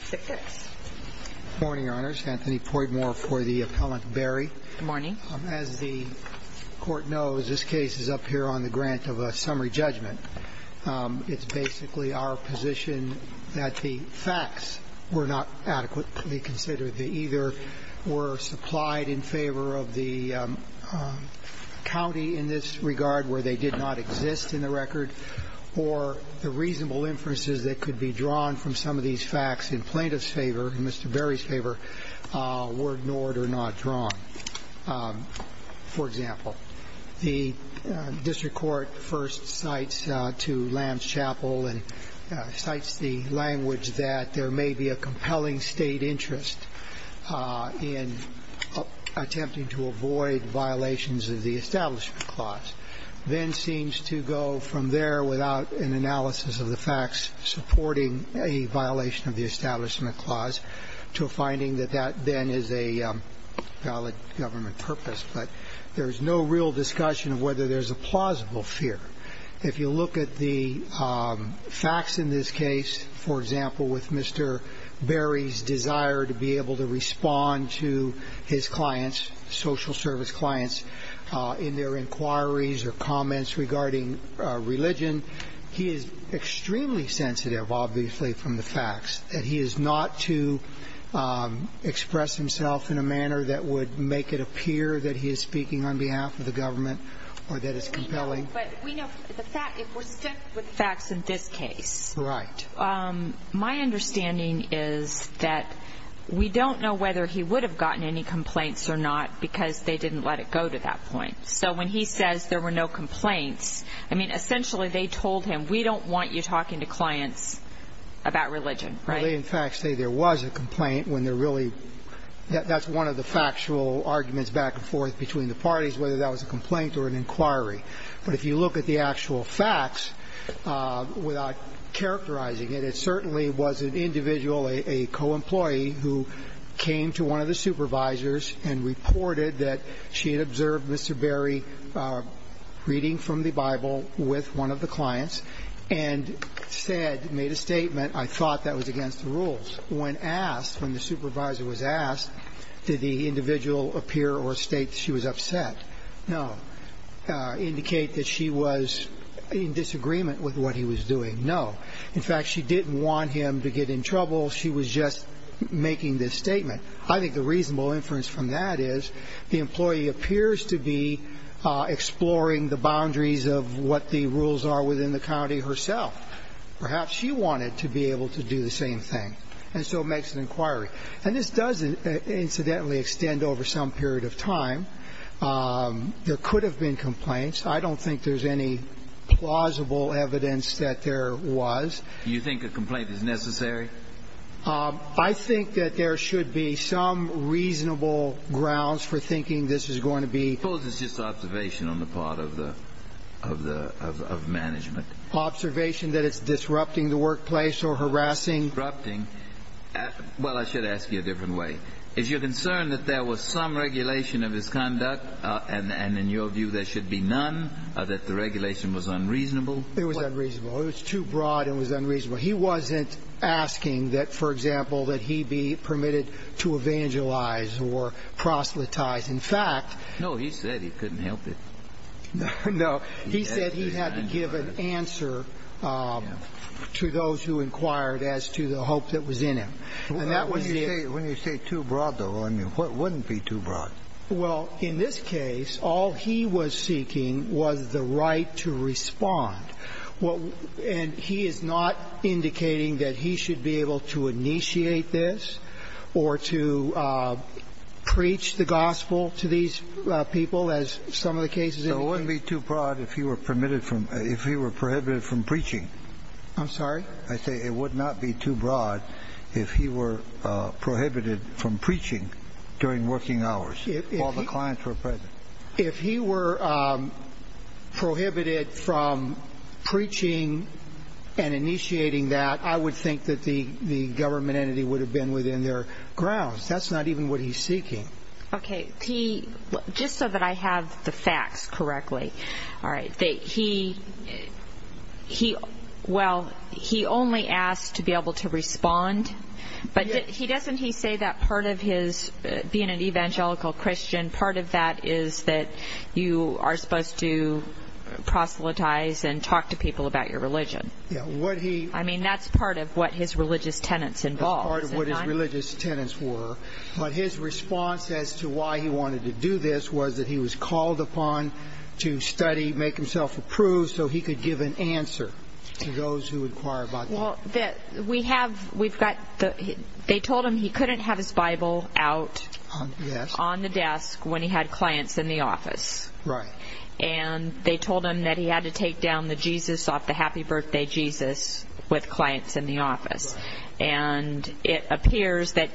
Court. Good morning, Your Honors. Anthony Poidmore for the appellant Berry. Good morning. As the Court knows, this case is up here on the grant of a summary judgment. It's basically our position that the facts were not adequately considered. They either were supplied in favor of the county in this regard where they did not exist in the record, or the reasonable inferences that could be drawn from some of these facts in plaintiff's favor, in Mr. Berry's favor, were ignored or not drawn. For example, the district court first cites to Lamb's Chapel and cites the language that there may be a compelling state interest in attempting to avoid violations of the Establishment Clause. Then seems to go from there without an analysis of the facts supporting a violation of the Establishment Clause to a finding that that then is a valid government purpose. But there's no real discussion of whether there's a plausible fear. If you look at the facts in this case, for example, with Mr. Berry's desire to be able to respond to his clients, social service clients, in their inquiries or comments regarding religion, he is extremely sensitive, obviously, from the facts. He is not to express himself in a manner that would make it appear that he is speaking on behalf of the government or that it's compelling. But we know the fact, if we're stuck with the facts in this case. Right. My understanding is that we don't know whether he would have gotten any complaints or not because they didn't let it go to that point. So when he says there were no complaints, I mean, essentially, they told him, we don't want you talking to clients about religion, right? They, in fact, say there was a complaint when they're really – that's one of the factual arguments back and forth between the parties, whether that was a complaint or an inquiry. But if you look at the actual facts, without characterizing it, it certainly was an individual, a co-employee, who came to one of the supervisors and reported that she had observed Mr. Berry reading from the Bible with one of the clients and said, made a statement, I thought that was against the rules. When asked, when the supervisor was asked, did the individual appear or state she was upset? No. Indicate that she was in disagreement with what he was doing? No. In fact, she didn't want him to get in trouble. She was just making this statement. I think the reasonable inference from that is the employee appears to be exploring the boundaries of what the rules are within the county herself. Perhaps she wanted to be able to do the same thing, and so makes an inquiry. And this does, incidentally, extend over some period of time. There could have been complaints. I don't think there's any plausible evidence that there was. Do you think a complaint is necessary? I think that there should be some reasonable grounds for thinking this is going to be – Suppose it's just observation on the part of the – of management. Observation that it's disrupting the workplace or harassing – I would ask you a different way. Is your concern that there was some regulation of his conduct, and in your view there should be none, that the regulation was unreasonable? It was unreasonable. It was too broad and was unreasonable. He wasn't asking that, for example, that he be permitted to evangelize or proselytize. In fact – No, he said he couldn't help it. No. He said he had to give an answer to those who inquired as to the hope that was in him. And that was the – When you say too broad, though, I mean, what wouldn't be too broad? Well, in this case, all he was seeking was the right to respond. And he is not indicating that he should be able to initiate this or to preach the gospel to these people, as some of the cases indicate. So it wouldn't be too broad if he were permitted from – if he were prohibited from preaching. I'm sorry? I say it would not be too broad if he were prohibited from preaching during working hours while the clients were present. If he were prohibited from preaching and initiating that, I would think that the government entity would have been within their grounds. That's not even what he's seeking. Okay. Just so that I have the facts correctly, all right, he – well, he only asked to be able to respond. But doesn't he say that part of his – being an evangelical Christian, part of that is that you are supposed to proselytize and talk to people about your religion? Yeah, what he – I mean, that's part of what his religious tenets involved. That's part of what his religious tenets were. But his response as to why he wanted to do this was that he was called upon to study, make himself approved so he could give an answer to those who inquire about him. Well, we have – we've got – they told him he couldn't have his Bible out on the desk when he had clients in the office. Right. And they told him that he had to take down the Jesus off the Happy Birthday Jesus with clients in the office. And it appears that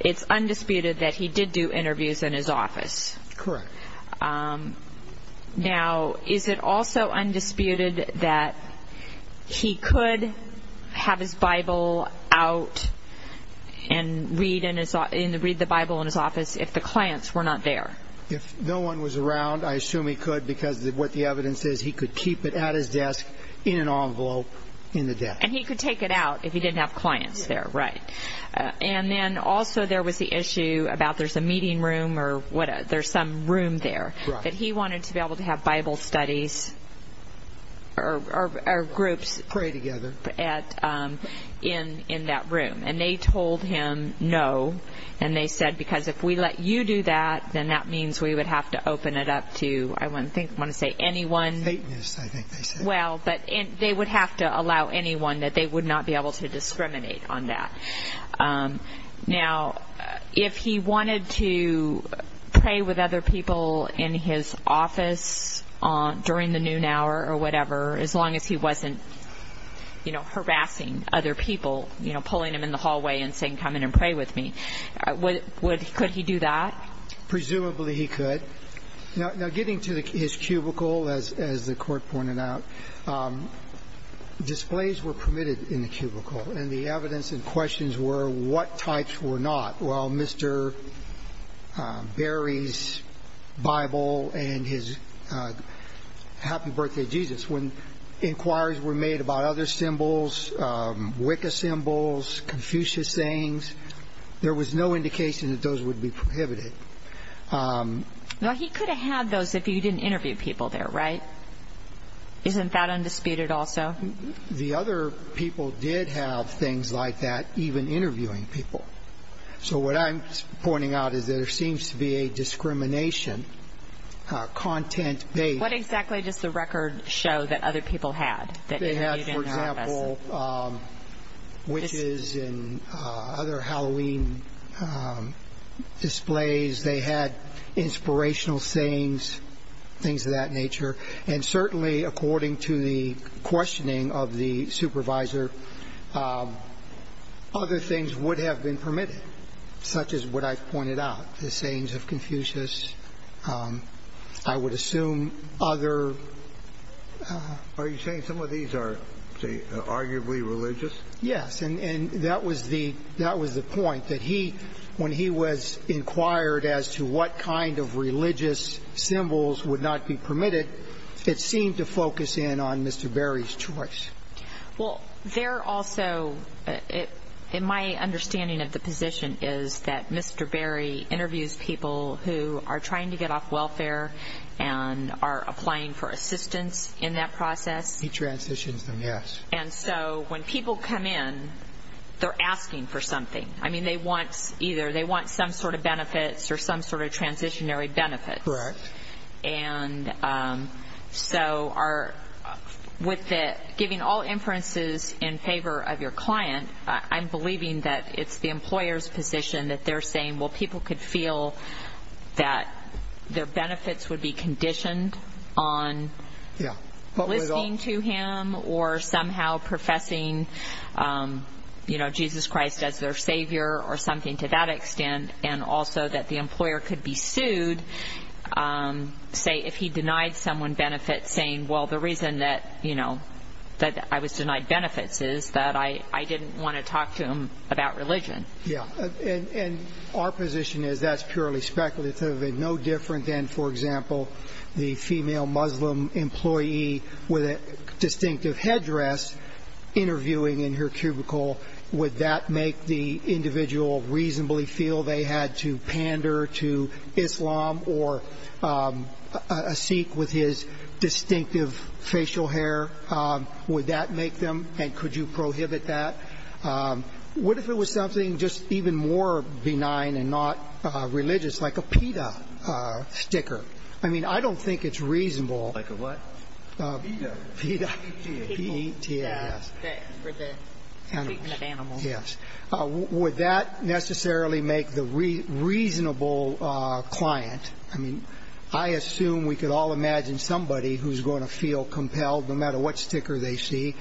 it's undisputed that he did do interviews in his office. Correct. Now, is it also undisputed that he could have his Bible out and read in his – read the Bible in his office if the clients were not there? If no one was around, I assume he could because what the evidence is he could keep it at his desk in an envelope in the desk. And he could take it out if he didn't have clients there. Right. And then also there was the issue about there's a meeting room or what – there's some room there. Right. That he wanted to be able to have Bible studies or groups. Pray together. At – in that room. And they told him no. And they said because if we let you do that, then that means we would have to open it up to – I want to say anyone. Satanists, I think they said. Well, but they would have to allow anyone that they would not be able to discriminate on that. Now, if he wanted to pray with other people in his office during the noon hour or whatever, as long as he wasn't, you know, harassing other people, you know, pulling them in the hallway and saying, come in and pray with me, could he do that? Presumably he could. Now, getting to his cubicle, as the court pointed out, displays were permitted in the cubicle. And the evidence and questions were what types were not. Well, Mr. Berry's Bible and his happy birthday Jesus. When inquiries were made about other symbols, Wicca symbols, Confucius sayings, there was no indication that those would be prohibited. Now, he could have had those if he didn't interview people there, right? Isn't that undisputed also? The other people did have things like that, even interviewing people. So what I'm pointing out is that there seems to be a discrimination content-based. What exactly does the record show that other people had? They had, for example, witches and other Halloween displays. They had inspirational sayings, things of that nature. And certainly, according to the questioning of the supervisor, other things would have been permitted, such as what I've pointed out, the sayings of Confucius. I would assume other... Are you saying some of these are arguably religious? Yes. And that was the point, that when he was inquired as to what kind of religious symbols would not be permitted, it seemed to focus in on Mr. Berry's choice. Well, there also, in my understanding of the position, is that Mr. Berry interviews people who are trying to get off welfare and are applying for assistance in that process. He transitions them, yes. And so when people come in, they're asking for something. I mean, they want either some sort of benefits or some sort of transitionary benefits. Correct. And so with giving all inferences in favor of your client, I'm believing that it's the employer's position that they're saying, well, people could feel that their benefits would be conditioned on listening to him or somehow professing Jesus Christ as their Savior or something to that extent, and also that the employer could be sued, say, if he denied someone benefits, saying, well, the reason that I was denied benefits is that I didn't want to talk to him about religion. Yes. And our position is that's purely speculative and no different than, for example, the female Muslim employee with a distinctive headdress interviewing in her cubicle. Would that make the individual reasonably feel they had to pander to Islam or a Sikh with his distinctive facial hair? Would that make them? And could you prohibit that? What if it was something just even more benign and not religious, like a PETA sticker? I mean, I don't think it's reasonable. Like a what? PETA. PETA. P-E-T-A. For the treatment of animals. Yes. Would that necessarily make the reasonable client? I mean, I assume we could all imagine somebody who's going to feel compelled no matter what sticker they see.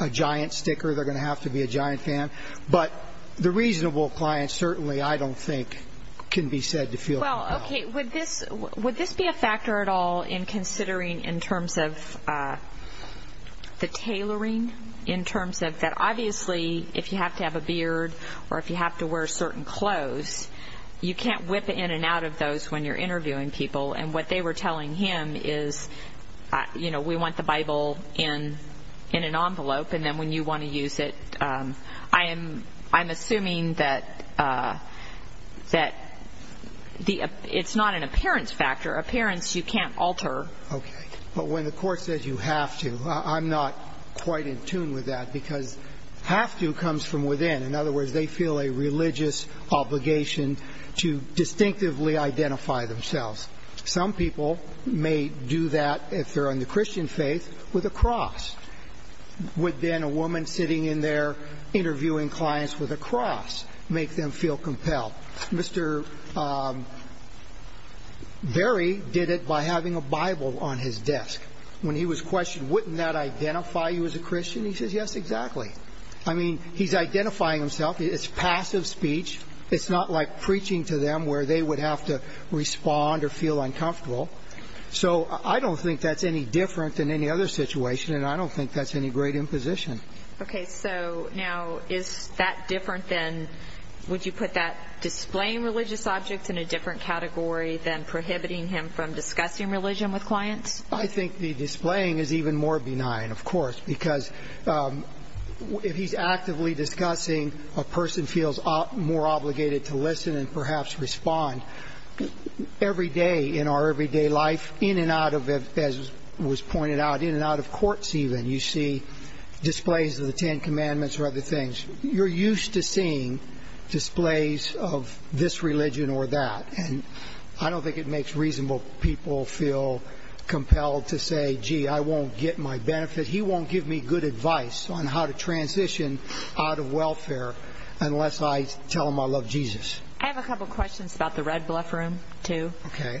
A giant sticker, they're going to have to be a giant fan. But the reasonable client certainly, I don't think, can be said to feel compelled. Well, okay, would this be a factor at all in considering in terms of the tailoring, in terms of that obviously if you have to have a beard or if you have to wear certain clothes, you can't whip in and out of those when you're interviewing people. And what they were telling him is, you know, we want the Bible in an envelope and then when you want to use it, I'm assuming that it's not an appearance factor. Appearance you can't alter. Okay. But when the court says you have to, I'm not quite in tune with that because have to comes from within. In other words, they feel a religious obligation to distinctively identify themselves. Some people may do that if they're on the Christian faith with a cross. Would then a woman sitting in there interviewing clients with a cross make them feel compelled? Mr. Berry did it by having a Bible on his desk. When he was questioned, wouldn't that identify you as a Christian? He says, yes, exactly. I mean, he's identifying himself. It's passive speech. It's not like preaching to them where they would have to respond or feel uncomfortable. So I don't think that's any different than any other situation, and I don't think that's any great imposition. Okay. So now is that different than would you put that displaying religious objects in a different category than prohibiting him from discussing religion with clients? I think the displaying is even more benign, of course, because if he's actively discussing, a person feels more obligated to listen and perhaps respond. Every day in our everyday life, in and out of, as was pointed out, in and out of courts even, you see displays of the Ten Commandments or other things. You're used to seeing displays of this religion or that, and I don't think it makes reasonable people feel compelled to say, gee, I won't get my benefit. He won't give me good advice on how to transition out of welfare unless I tell him I love Jesus. I have a couple of questions about the Red Bluff Room, too. Okay.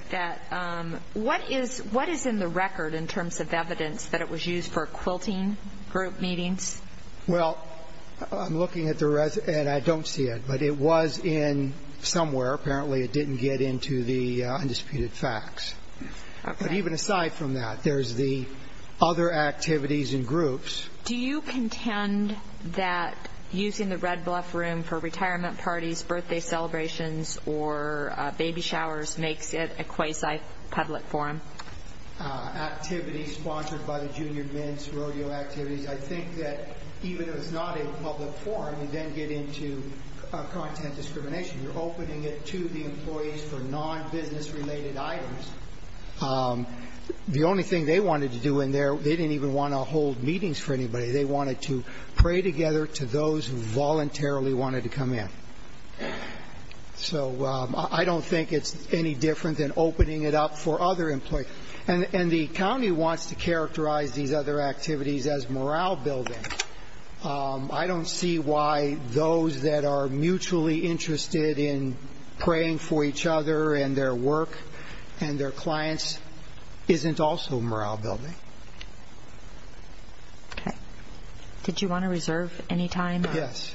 What is in the record in terms of evidence that it was used for quilting group meetings? Well, I'm looking at the record, and I don't see it, but it was in somewhere. Apparently it didn't get into the undisputed facts. Okay. But even aside from that, there's the other activities and groups. Do you contend that using the Red Bluff Room for retirement parties, birthday celebrations, or baby showers makes it a quasi-public forum? Activities sponsored by the junior men's rodeo activities. I think that even if it's not a public forum, you then get into content discrimination. You're opening it to the employees for non-business-related items. The only thing they wanted to do in there, they didn't even want to hold meetings for anybody. They wanted to pray together to those who voluntarily wanted to come in. So I don't think it's any different than opening it up for other employees. And the county wants to characterize these other activities as morale building. I don't see why those that are mutually interested in praying for each other and their work and their clients isn't also morale building. Okay. Did you want to reserve any time? Yes.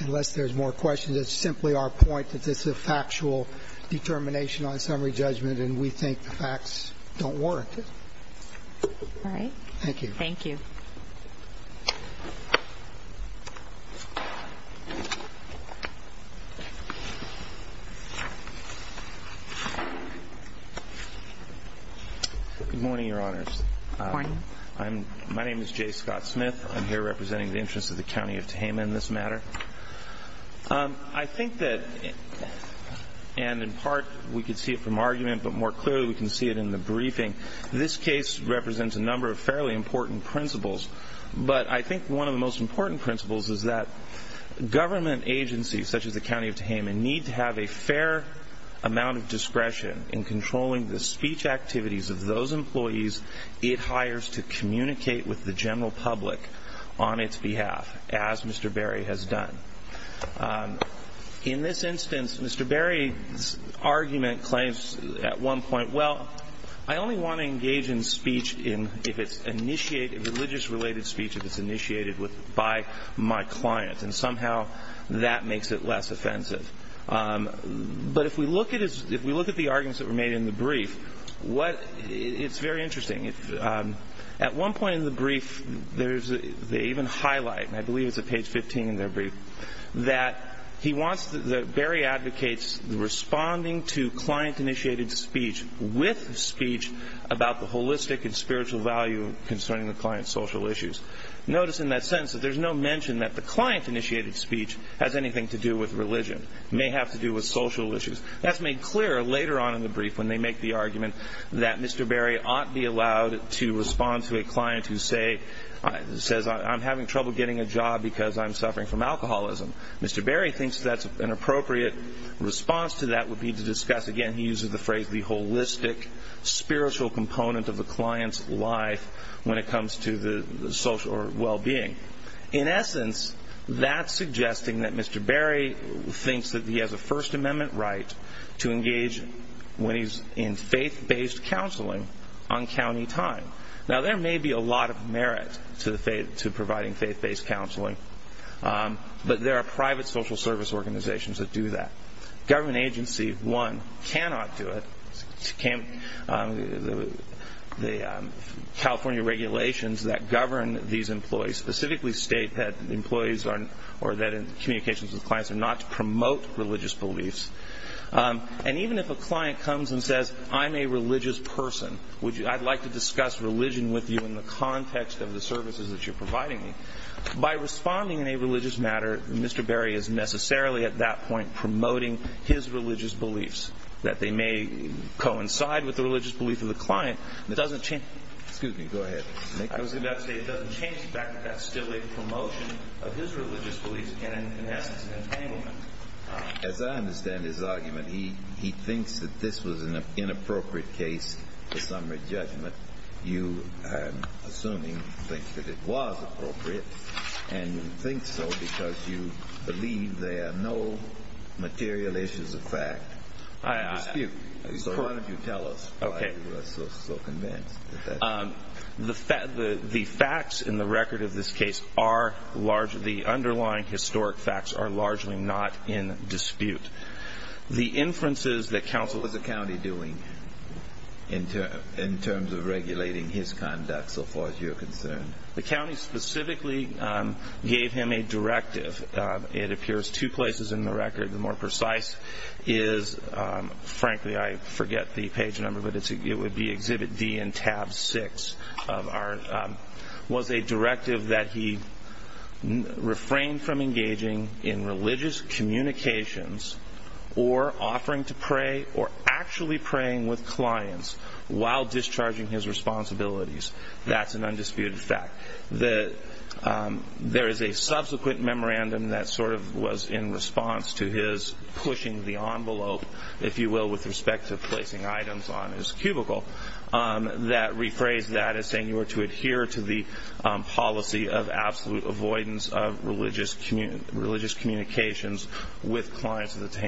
Unless there's more questions, it's simply our point that this is a factual determination on summary judgment, and we think the facts don't warrant it. All right. Thank you. Thank you. Good morning, Your Honors. Good morning. My name is Jay Scott Smith. I'm here representing the interests of the County of Tehama in this matter. I think that, and in part we can see it from argument, but more clearly we can see it in the briefing, this case represents a number of fairly important principles, but I think one of the most important principles is that government agencies, such as the County of Tehama, need to have a fair amount of discretion in controlling the speech activities of those employees it hires to communicate with the general public on its behalf, as Mr. Berry has done. In this instance, Mr. Berry's argument claims at one point, well, I only want to engage in speech if it's initiated, religious-related speech, if it's initiated by my clients, and somehow that makes it less offensive. But if we look at the arguments that were made in the brief, it's very interesting. At one point in the brief, they even highlight, and I believe it's at page 15 in their brief, that Berry advocates responding to client-initiated speech with speech about the holistic and spiritual value concerning the client's social issues. Notice in that sentence that there's no mention that the client-initiated speech has anything to do with religion. It may have to do with social issues. That's made clear later on in the brief when they make the argument that Mr. Berry oughtn't be allowed to respond to a client who says, I'm having trouble getting a job because I'm suffering from alcoholism. Mr. Berry thinks that an appropriate response to that would be to discuss, again, he uses the phrase, the holistic spiritual component of the client's life when it comes to the social or well-being. In essence, that's suggesting that Mr. Berry thinks that he has a First Amendment right to engage when he's in faith-based counseling on county time. Now, there may be a lot of merit to providing faith-based counseling, but there are private social service organizations that do that. Government agencies, one, cannot do it. The California regulations that govern these employees specifically state that communications with clients are not to promote religious beliefs. And even if a client comes and says, I'm a religious person. I'd like to discuss religion with you in the context of the services that you're providing me. By responding in a religious manner, Mr. Berry is necessarily at that point promoting his religious beliefs, that they may coincide with the religious beliefs of the client. It doesn't change the fact that that's still a promotion of his religious beliefs, and in essence, an entanglement. As I understand his argument, he thinks that this was an inappropriate case for summary judgment. You, I'm assuming, think that it was appropriate, and you think so because you believe there are no material issues of fact in dispute. So why don't you tell us why you are so convinced that that's the case? The facts in the record of this case are large. The underlying historic facts are largely not in dispute. The inferences that counsel- What was the county doing in terms of regulating his conduct so far as you're concerned? The county specifically gave him a directive. It appears two places in the record. The more precise is, frankly, I forget the page number, but it would be Exhibit D in Tab 6, was a directive that he refrained from engaging in religious communications or offering to pray or actually praying with clients while discharging his responsibilities. That's an undisputed fact. There is a subsequent memorandum that sort of was in response to his pushing the envelope, if you will, with respect to placing items on his cubicle, that rephrased that as saying you were to adhere to the policy of absolute avoidance of religious communications with clients of the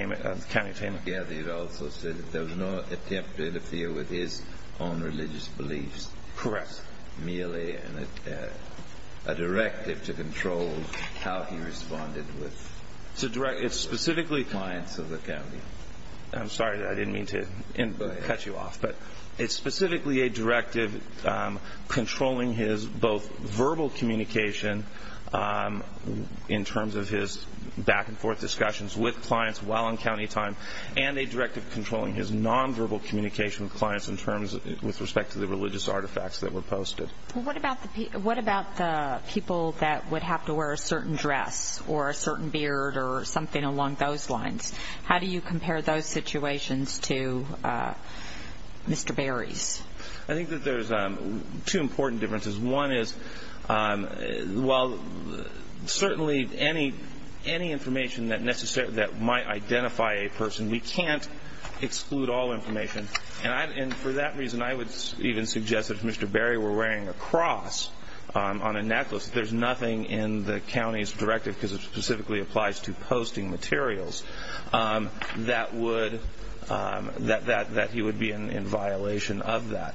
county of Tampa. Yeah, they also said that there was no attempt to interfere with his own religious beliefs. Correct. Merely a directive to control how he responded with- Clients of the county. I'm sorry, I didn't mean to cut you off, but it's specifically a directive controlling his both verbal communication in terms of his back-and-forth discussions with clients while on county time and a directive controlling his nonverbal communication with clients with respect to the religious artifacts that were posted. What about the people that would have to wear a certain dress or a certain beard or something along those lines? How do you compare those situations to Mr. Berry's? I think that there's two important differences. One is while certainly any information that might identify a person, we can't exclude all information. For that reason, I would even suggest that if Mr. Berry were wearing a cross on a necklace, there's nothing in the county's directive, because it specifically applies to posting materials, that he would be in violation of that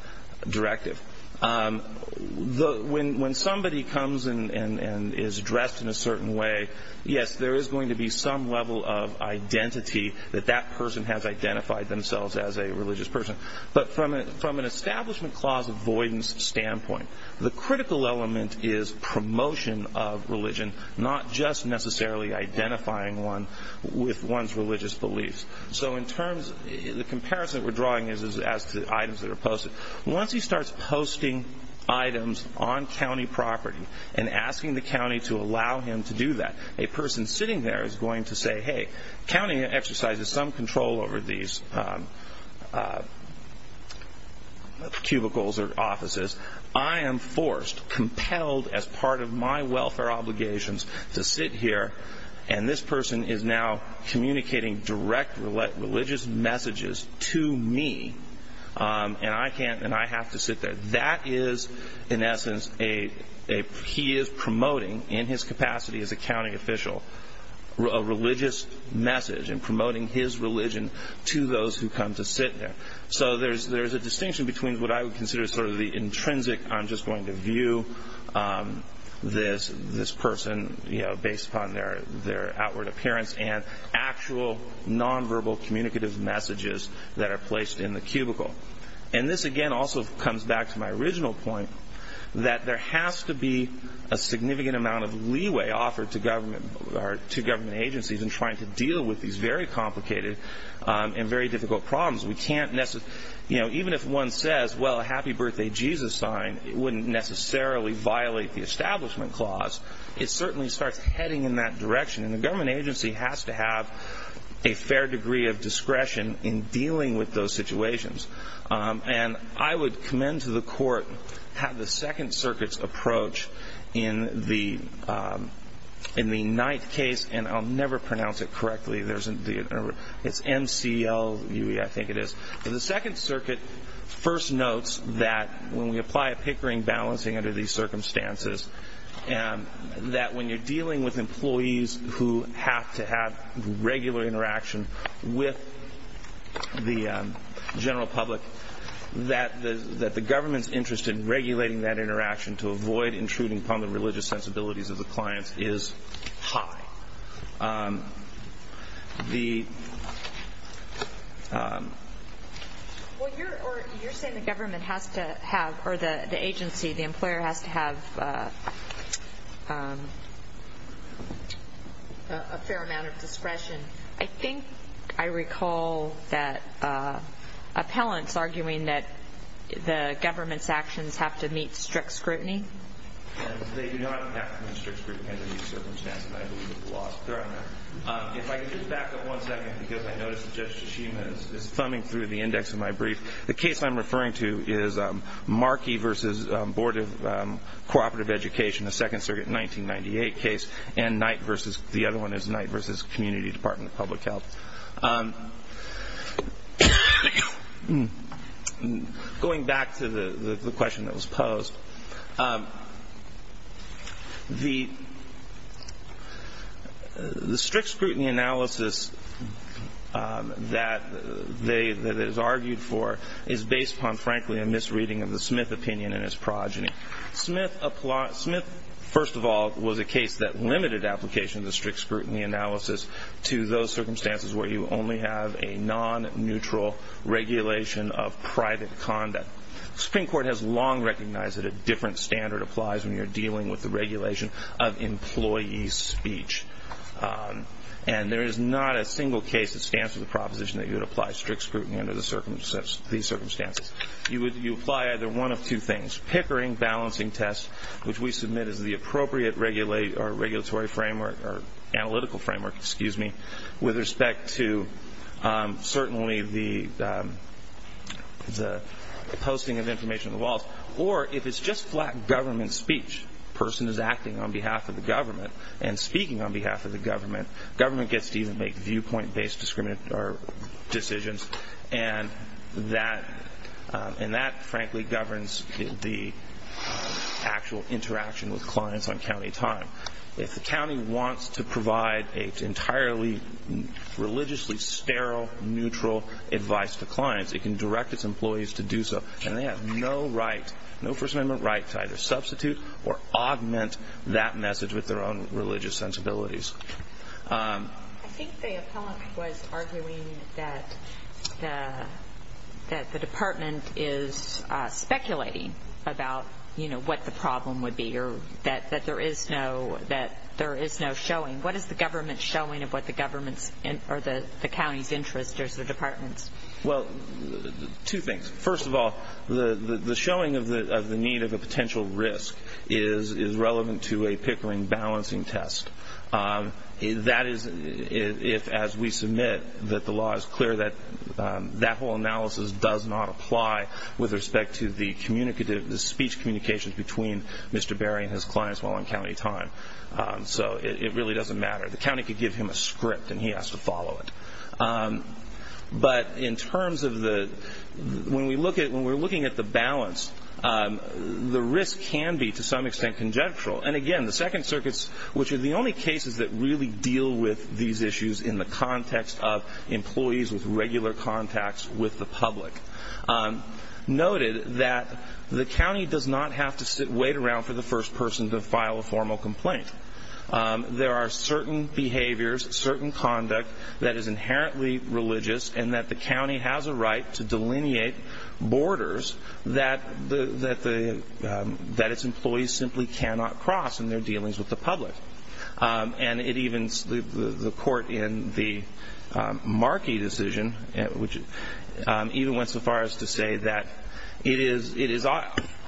directive. When somebody comes and is dressed in a certain way, yes, there is going to be some level of identity that that person has identified themselves as a religious person. But from an establishment clause avoidance standpoint, the critical element is promotion of religion, not just necessarily identifying one with one's religious beliefs. The comparison that we're drawing is as to items that are posted. Once he starts posting items on county property and asking the county to allow him to do that, a person sitting there is going to say, hey, county exercises some control over these cubicles or offices. I am forced, compelled as part of my welfare obligations to sit here, and this person is now communicating direct religious messages to me, and I have to sit there. That is, in essence, he is promoting in his capacity as a county official, a religious message and promoting his religion to those who come to sit there. So there's a distinction between what I would consider sort of the intrinsic, I'm just going to view this person based upon their outward appearance, and actual nonverbal communicative messages that are placed in the cubicle. This, again, also comes back to my original point that there has to be a significant amount of leeway offered to government agencies in trying to deal with these very complicated and very difficult problems. Even if one says, well, a happy birthday Jesus sign, it wouldn't necessarily violate the establishment clause. It certainly starts heading in that direction, and the government agency has to have a fair degree of discretion in dealing with those situations. And I would commend to the court the Second Circuit's approach in the Knight case, and I'll never pronounce it correctly. It's M-C-L-U-E, I think it is. The Second Circuit first notes that when we apply a pickering balancing under these circumstances, that when you're dealing with employees who have to have regular interaction with the general public, that the government's interest in regulating that interaction to avoid intruding upon the religious sensibilities of the clients is high. Well, you're saying the government has to have, or the agency, the employer, has to have a fair amount of discretion. I think I recall that appellants arguing that the government's actions have to meet strict scrutiny. They do not have to meet strict scrutiny under these circumstances. I believe that the law is clear on that. If I could just back up one second, because I noticed that Judge Tashima is thumbing through the index of my brief. The case I'm referring to is Markey v. Board of Cooperative Education, the Second Circuit 1998 case, and the other one is Knight v. Community Department of Public Health. Going back to the question that was posed, the strict scrutiny analysis that it is argued for is based upon, frankly, a misreading of the Smith opinion and its progeny. Smith, first of all, was a case that limited application of the strict scrutiny analysis to those circumstances where you only have a non-neutral regulation of private conduct. The Supreme Court has long recognized that a different standard applies when you're dealing with the regulation of employee speech. And there is not a single case that stands to the proposition that you would apply strict scrutiny under these circumstances. You apply either one of two things, which we submit as the appropriate regulatory framework, or analytical framework, excuse me, with respect to certainly the posting of information on the walls, or if it's just flat government speech, a person is acting on behalf of the government and speaking on behalf of the government, government gets to even make viewpoint-based decisions, and that, frankly, governs the actual interaction with clients on county time. If the county wants to provide an entirely religiously sterile, neutral advice to clients, it can direct its employees to do so. And they have no right, no First Amendment right, to either substitute or augment that message with their own religious sensibilities. I think the appellant was arguing that the department is speculating about, you know, what the problem would be, or that there is no showing. What is the government showing of what the government's, or the county's interest versus the department's? Well, two things. First of all, the showing of the need of a potential risk is relevant to a Pickering balancing test. That is if, as we submit, that the law is clear that that whole analysis does not apply with respect to the speech communications between Mr. Berry and his clients while on county time. So it really doesn't matter. The county could give him a script, and he has to follow it. But in terms of the, when we look at, when we're looking at the balance, the risk can be, to some extent, conjectural. And again, the Second Circuits, which are the only cases that really deal with these issues in the context of employees with regular contacts with the public, noted that the county does not have to wait around for the first person to file a formal complaint. There are certain behaviors, certain conduct that is inherently religious, and that the county has a right to delineate borders that its employees simply cannot cross in their dealings with the public. And it evens the court in the Markey decision, which even went so far as to say that it is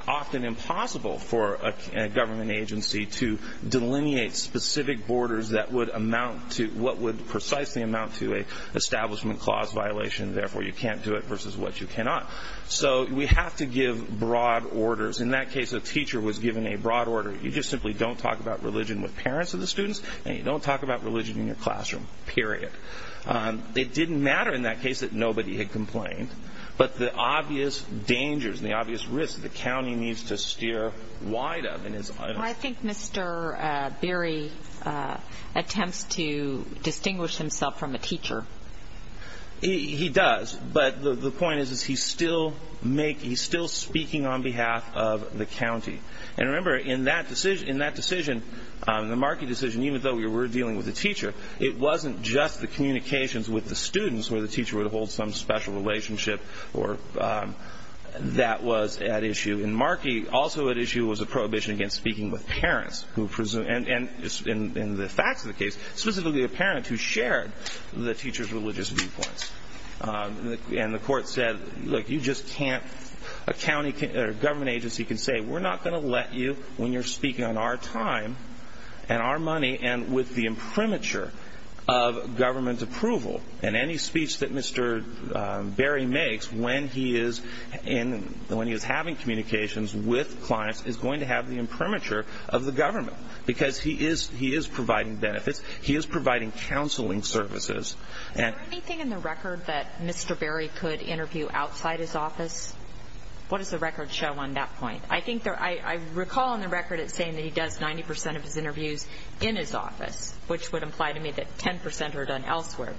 often impossible for a government agency to delineate specific borders that would amount to, what would precisely amount to an establishment clause violation, therefore you can't do it versus what you cannot. So we have to give broad orders. In that case, a teacher was given a broad order. You just simply don't talk about religion with parents of the students, and you don't talk about religion in your classroom, period. It didn't matter in that case that nobody had complained. But the obvious dangers and the obvious risks that the county needs to steer wide of. I think Mr. Berry attempts to distinguish himself from a teacher. He does, but the point is he's still speaking on behalf of the county. And remember, in that decision, the Markey decision, even though we were dealing with a teacher, it wasn't just the communications with the students where the teacher would hold some special relationship that was at issue. In Markey, also at issue was a prohibition against speaking with parents, and in the facts of the case, specifically a parent who shared the teacher's religious viewpoints. And the court said, look, you just can't, a government agency can say, we're not going to let you when you're speaking on our time and our money and with the imprimatur of government approval. And any speech that Mr. Berry makes when he is having communications with clients is going to have the imprimatur of the government, because he is providing benefits, he is providing counseling services. Is there anything in the record that Mr. Berry could interview outside his office? What does the record show on that point? I recall in the record it saying that he does 90% of his interviews in his office, which would imply to me that 10% are done elsewhere.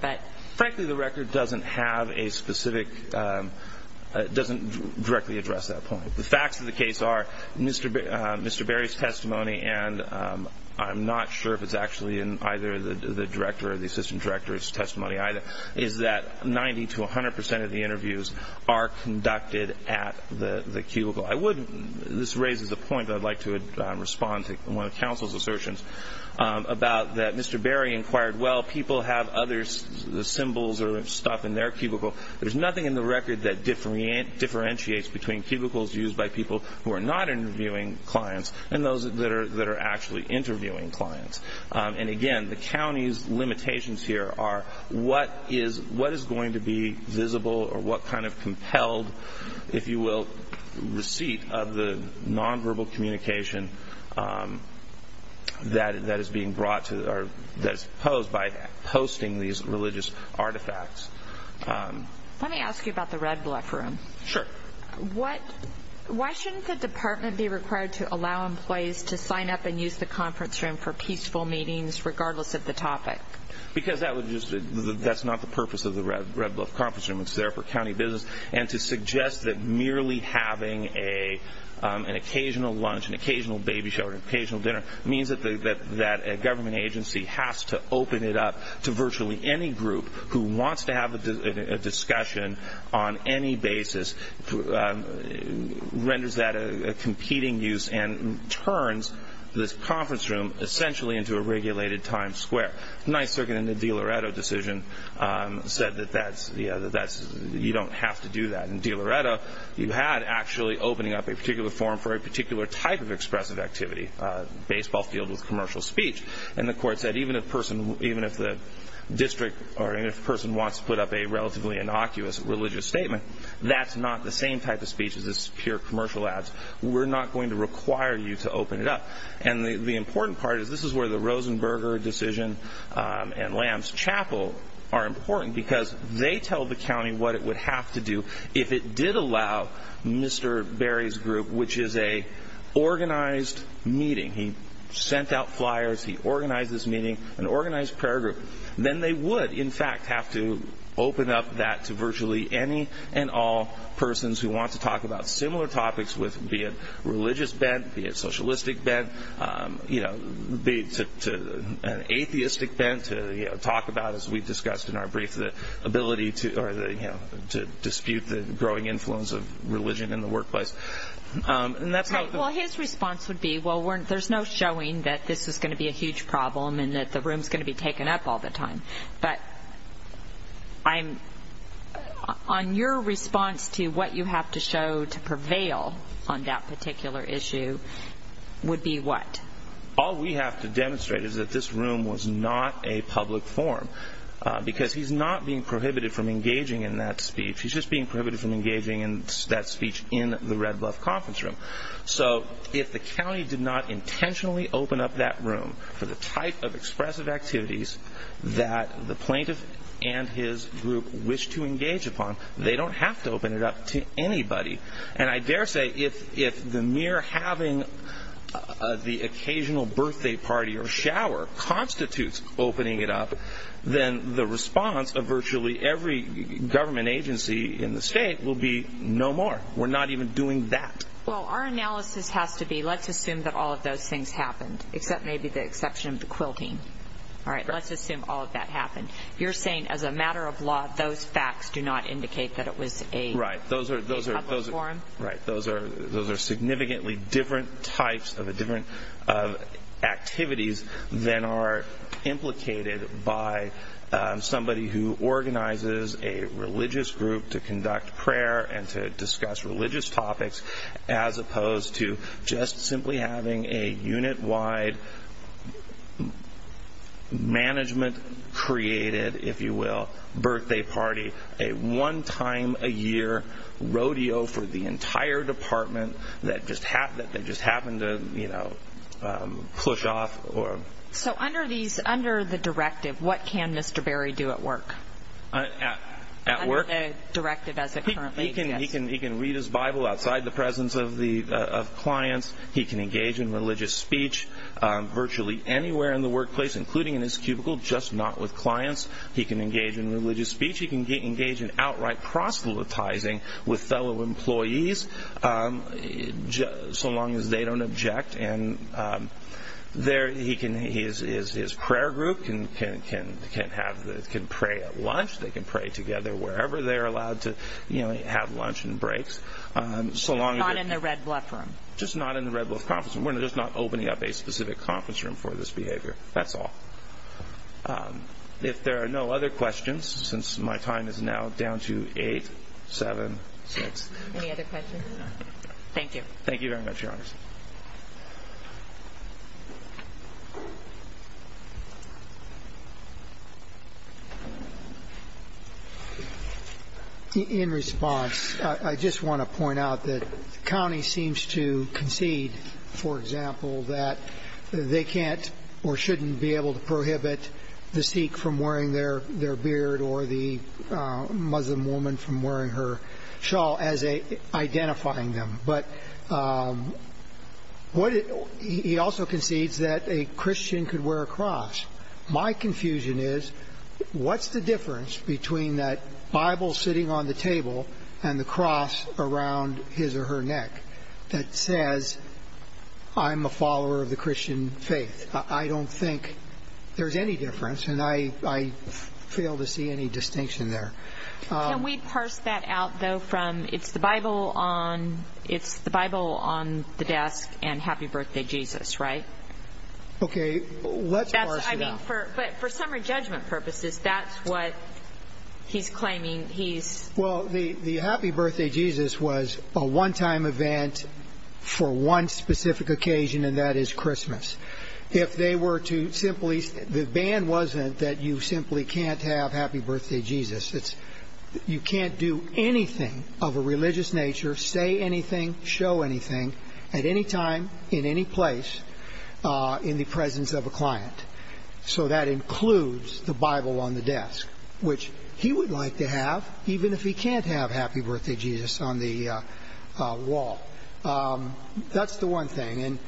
Frankly, the record doesn't have a specific, doesn't directly address that point. The facts of the case are Mr. Berry's testimony, and I'm not sure if it's actually in either the director or the assistant director's testimony either, is that 90% to 100% of the interviews are conducted at the cubicle. This raises the point that I'd like to respond to one of counsel's assertions about that Mr. Berry inquired, well, people have other symbols or stuff in their cubicle. There's nothing in the record that differentiates between cubicles used by people who are not interviewing clients and those that are actually interviewing clients. And again, the county's limitations here are what is going to be visible or what kind of compelled, if you will, receipt of the nonverbal communication that is posed by posting these religious artifacts. Let me ask you about the Red Bluff Room. Sure. Why shouldn't the department be required to allow employees to sign up and use the conference room for peaceful meetings regardless of the topic? Because that's not the purpose of the Red Bluff Conference Room. It's there for county business. And to suggest that merely having an occasional lunch, an occasional baby shower, an occasional dinner, means that a government agency has to open it up to virtually any group who wants to have a discussion on any basis renders that a competing use and turns this conference room essentially into a regulated Times Square. The Ninth Circuit in the DiLoretto decision said that you don't have to do that. In DiLoretto, you had actually opening up a particular forum for a particular type of expressive activity, a baseball field with commercial speech. And the court said even if the district or if a person wants to put up a relatively innocuous religious statement, that's not the same type of speech as is pure commercial ads. We're not going to require you to open it up. And the important part is this is where the Rosenberger decision and Lamb's Chapel are important because they tell the county what it would have to do if it did allow Mr. Berry's group, which is an organized meeting. He sent out flyers. He organized this meeting, an organized prayer group. Then they would, in fact, have to open up that to virtually any and all persons who want to talk about similar topics, be it religious bent, be it socialistic bent, be it an atheistic bent to talk about, as we discussed in our brief, the ability to dispute the growing influence of religion in the workplace. Well, his response would be, well, there's no showing that this is going to be a huge problem and that the room is going to be taken up all the time. But on your response to what you have to show to prevail on that particular issue would be what? All we have to demonstrate is that this room was not a public forum because he's not being prohibited from engaging in that speech. He's just being prohibited from engaging in that speech in the Red Bluff Conference Room. So if the county did not intentionally open up that room for the type of expressive activities that the plaintiff and his group wish to engage upon, they don't have to open it up to anybody. And I dare say if the mere having the occasional birthday party or shower constitutes opening it up, then the response of virtually every government agency in the state will be no more. We're not even doing that. Well, our analysis has to be let's assume that all of those things happened, except maybe the exception of the quilting. All right, let's assume all of that happened. You're saying as a matter of law, those facts do not indicate that it was a public forum? Right. Those are significantly different types of activities than are implicated by somebody who organizes a religious group to conduct prayer and to discuss religious topics as opposed to just simply having a unit-wide management created, if you will, birthday party, a one-time-a-year rodeo for the entire department that just happened to push off. So under the directive, what can Mr. Berry do at work? At work? Under the directive as it currently exists. He can read his Bible outside the presence of clients. He can engage in religious speech virtually anywhere in the workplace, including in his cubicle, just not with clients. He can engage in religious speech. He can engage in outright proselytizing with fellow employees so long as they don't object. His prayer group can pray at lunch. They can pray together wherever they're allowed to have lunch and breaks. Not in the Red Bluff room? Just not in the Red Bluff conference room. We're just not opening up a specific conference room for this behavior. That's all. If there are no other questions, since my time is now down to eight, seven, six. Any other questions? No. Thank you. Thank you very much, Your Honor. In response, I just want to point out that the county seems to concede, for example, that they can't or shouldn't be able to prohibit the Sikh from wearing their beard or the Muslim woman from wearing her shawl as identifying them. But he also concedes that a Christian could wear a cross. My confusion is, what's the difference between that Bible sitting on the table and the cross around his or her neck that says, I'm a follower of the Christian faith? I don't think there's any difference, and I fail to see any distinction there. Can we parse that out, though? It's the Bible on the desk and Happy Birthday Jesus, right? Okay, let's parse it out. But for summary judgment purposes, that's what he's claiming. Well, the Happy Birthday Jesus was a one-time event for one specific occasion, and that is Christmas. The ban wasn't that you simply can't have Happy Birthday Jesus. You can't do anything of a religious nature, say anything, show anything, at any time, in any place, in the presence of a client. So that includes the Bible on the desk, which he would like to have, even if he can't have Happy Birthday Jesus on the wall. That's the one thing.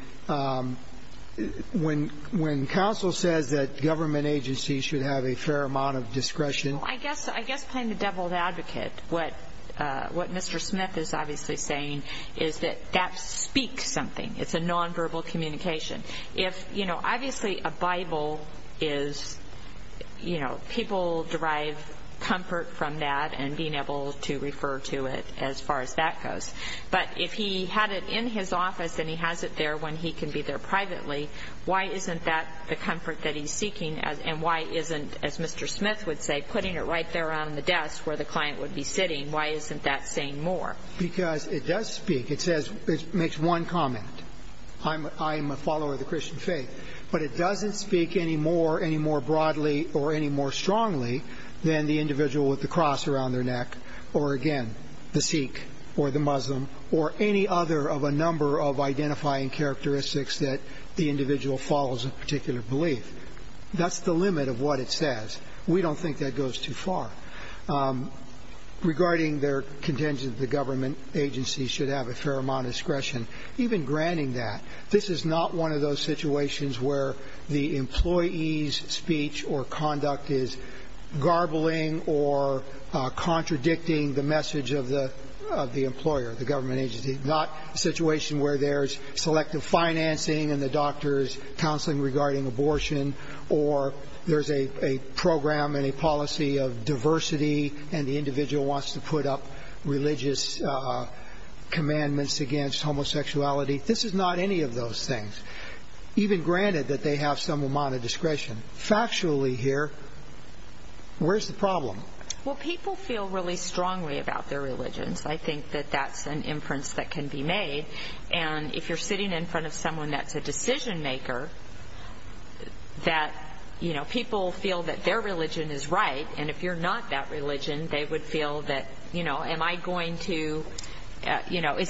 When counsel says that government agencies should have a fair amount of discretion... I guess, playing the devil's advocate, what Mr. Smith is obviously saying is that that speaks something. It's a nonverbal communication. Obviously, a Bible is, you know, people derive comfort from that and being able to refer to it as far as that goes. But if he had it in his office and he has it there when he can be there privately, why isn't that the comfort that he's seeking? And why isn't, as Mr. Smith would say, putting it right there on the desk where the client would be sitting, why isn't that saying more? Because it does speak. It makes one comment. I am a follower of the Christian faith. But it doesn't speak any more, any more broadly or any more strongly than the individual with the cross around their neck or, again, the Sikh or the Muslim or any other of a number of identifying characteristics that the individual follows a particular belief. That's the limit of what it says. We don't think that goes too far. Regarding their contention that the government agencies should have a fair amount of discretion, even granting that, this is not one of those situations where the employee's speech or conduct is garbling or contradicting the message of the employer, the government agency, not a situation where there's selective financing and the doctor's counseling regarding abortion or there's a program and a policy of diversity and the individual wants to put up religious commandments against homosexuality. This is not any of those things. Even granted that they have some amount of discretion. Factually here, where's the problem? Well, people feel really strongly about their religions. I think that that's an inference that can be made. And if you're sitting in front of someone that's a decision-maker, people feel that their religion is right. And if you're not that religion, they would feel that, is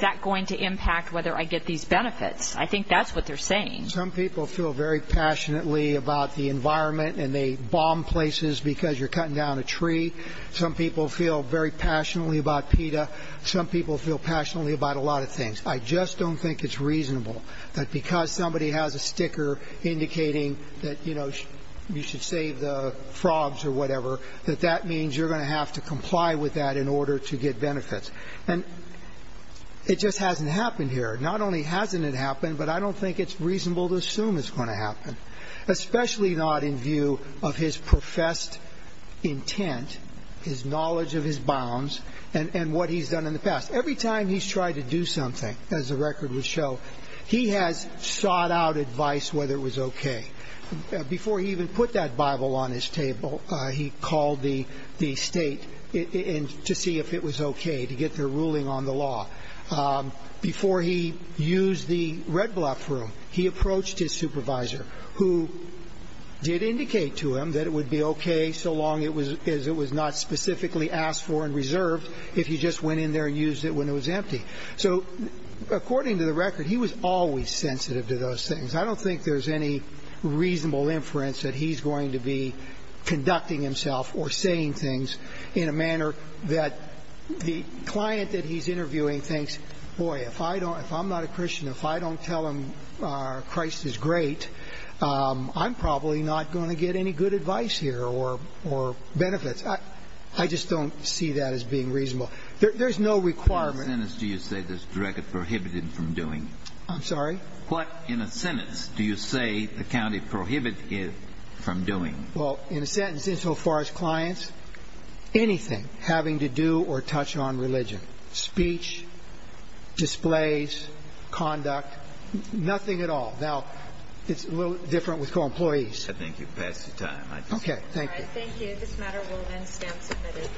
that going to impact whether I get these benefits? I think that's what they're saying. Some people feel very passionately about the environment and they bomb places because you're cutting down a tree. Some people feel very passionately about PETA. Some people feel passionately about a lot of things. I just don't think it's reasonable that because somebody has a sticker indicating that, you know, you should save the frogs or whatever, that that means you're going to have to comply with that in order to get benefits. And it just hasn't happened here. Not only hasn't it happened, but I don't think it's reasonable to assume it's going to happen, especially not in view of his professed intent, his knowledge of his bounds, and what he's done in the past. Every time he's tried to do something, as the record would show, he has sought out advice whether it was okay. Before he even put that Bible on his table, he called the state to see if it was okay, to get their ruling on the law. Before he used the red block room, he approached his supervisor, who did indicate to him that it would be okay so long as it was not specifically asked for and reserved if he just went in there and used it when it was empty. So according to the record, he was always sensitive to those things. I don't think there's any reasonable inference that he's going to be conducting himself or saying things in a manner that the client that he's interviewing thinks, boy, if I'm not a Christian, if I don't tell him Christ is great, I'm probably not going to get any good advice here or benefits. I just don't see that as being reasonable. There's no requirement. What in a sentence do you say this record prohibited him from doing? I'm sorry? What in a sentence do you say the county prohibited him from doing? Well, in a sentence, insofar as clients, anything having to do or touch on religion, speech, displays, conduct, nothing at all. Now, it's a little different with co-employees. I think you've passed the time. Okay, thank you. All right, thank you. This matter will then stand submitted.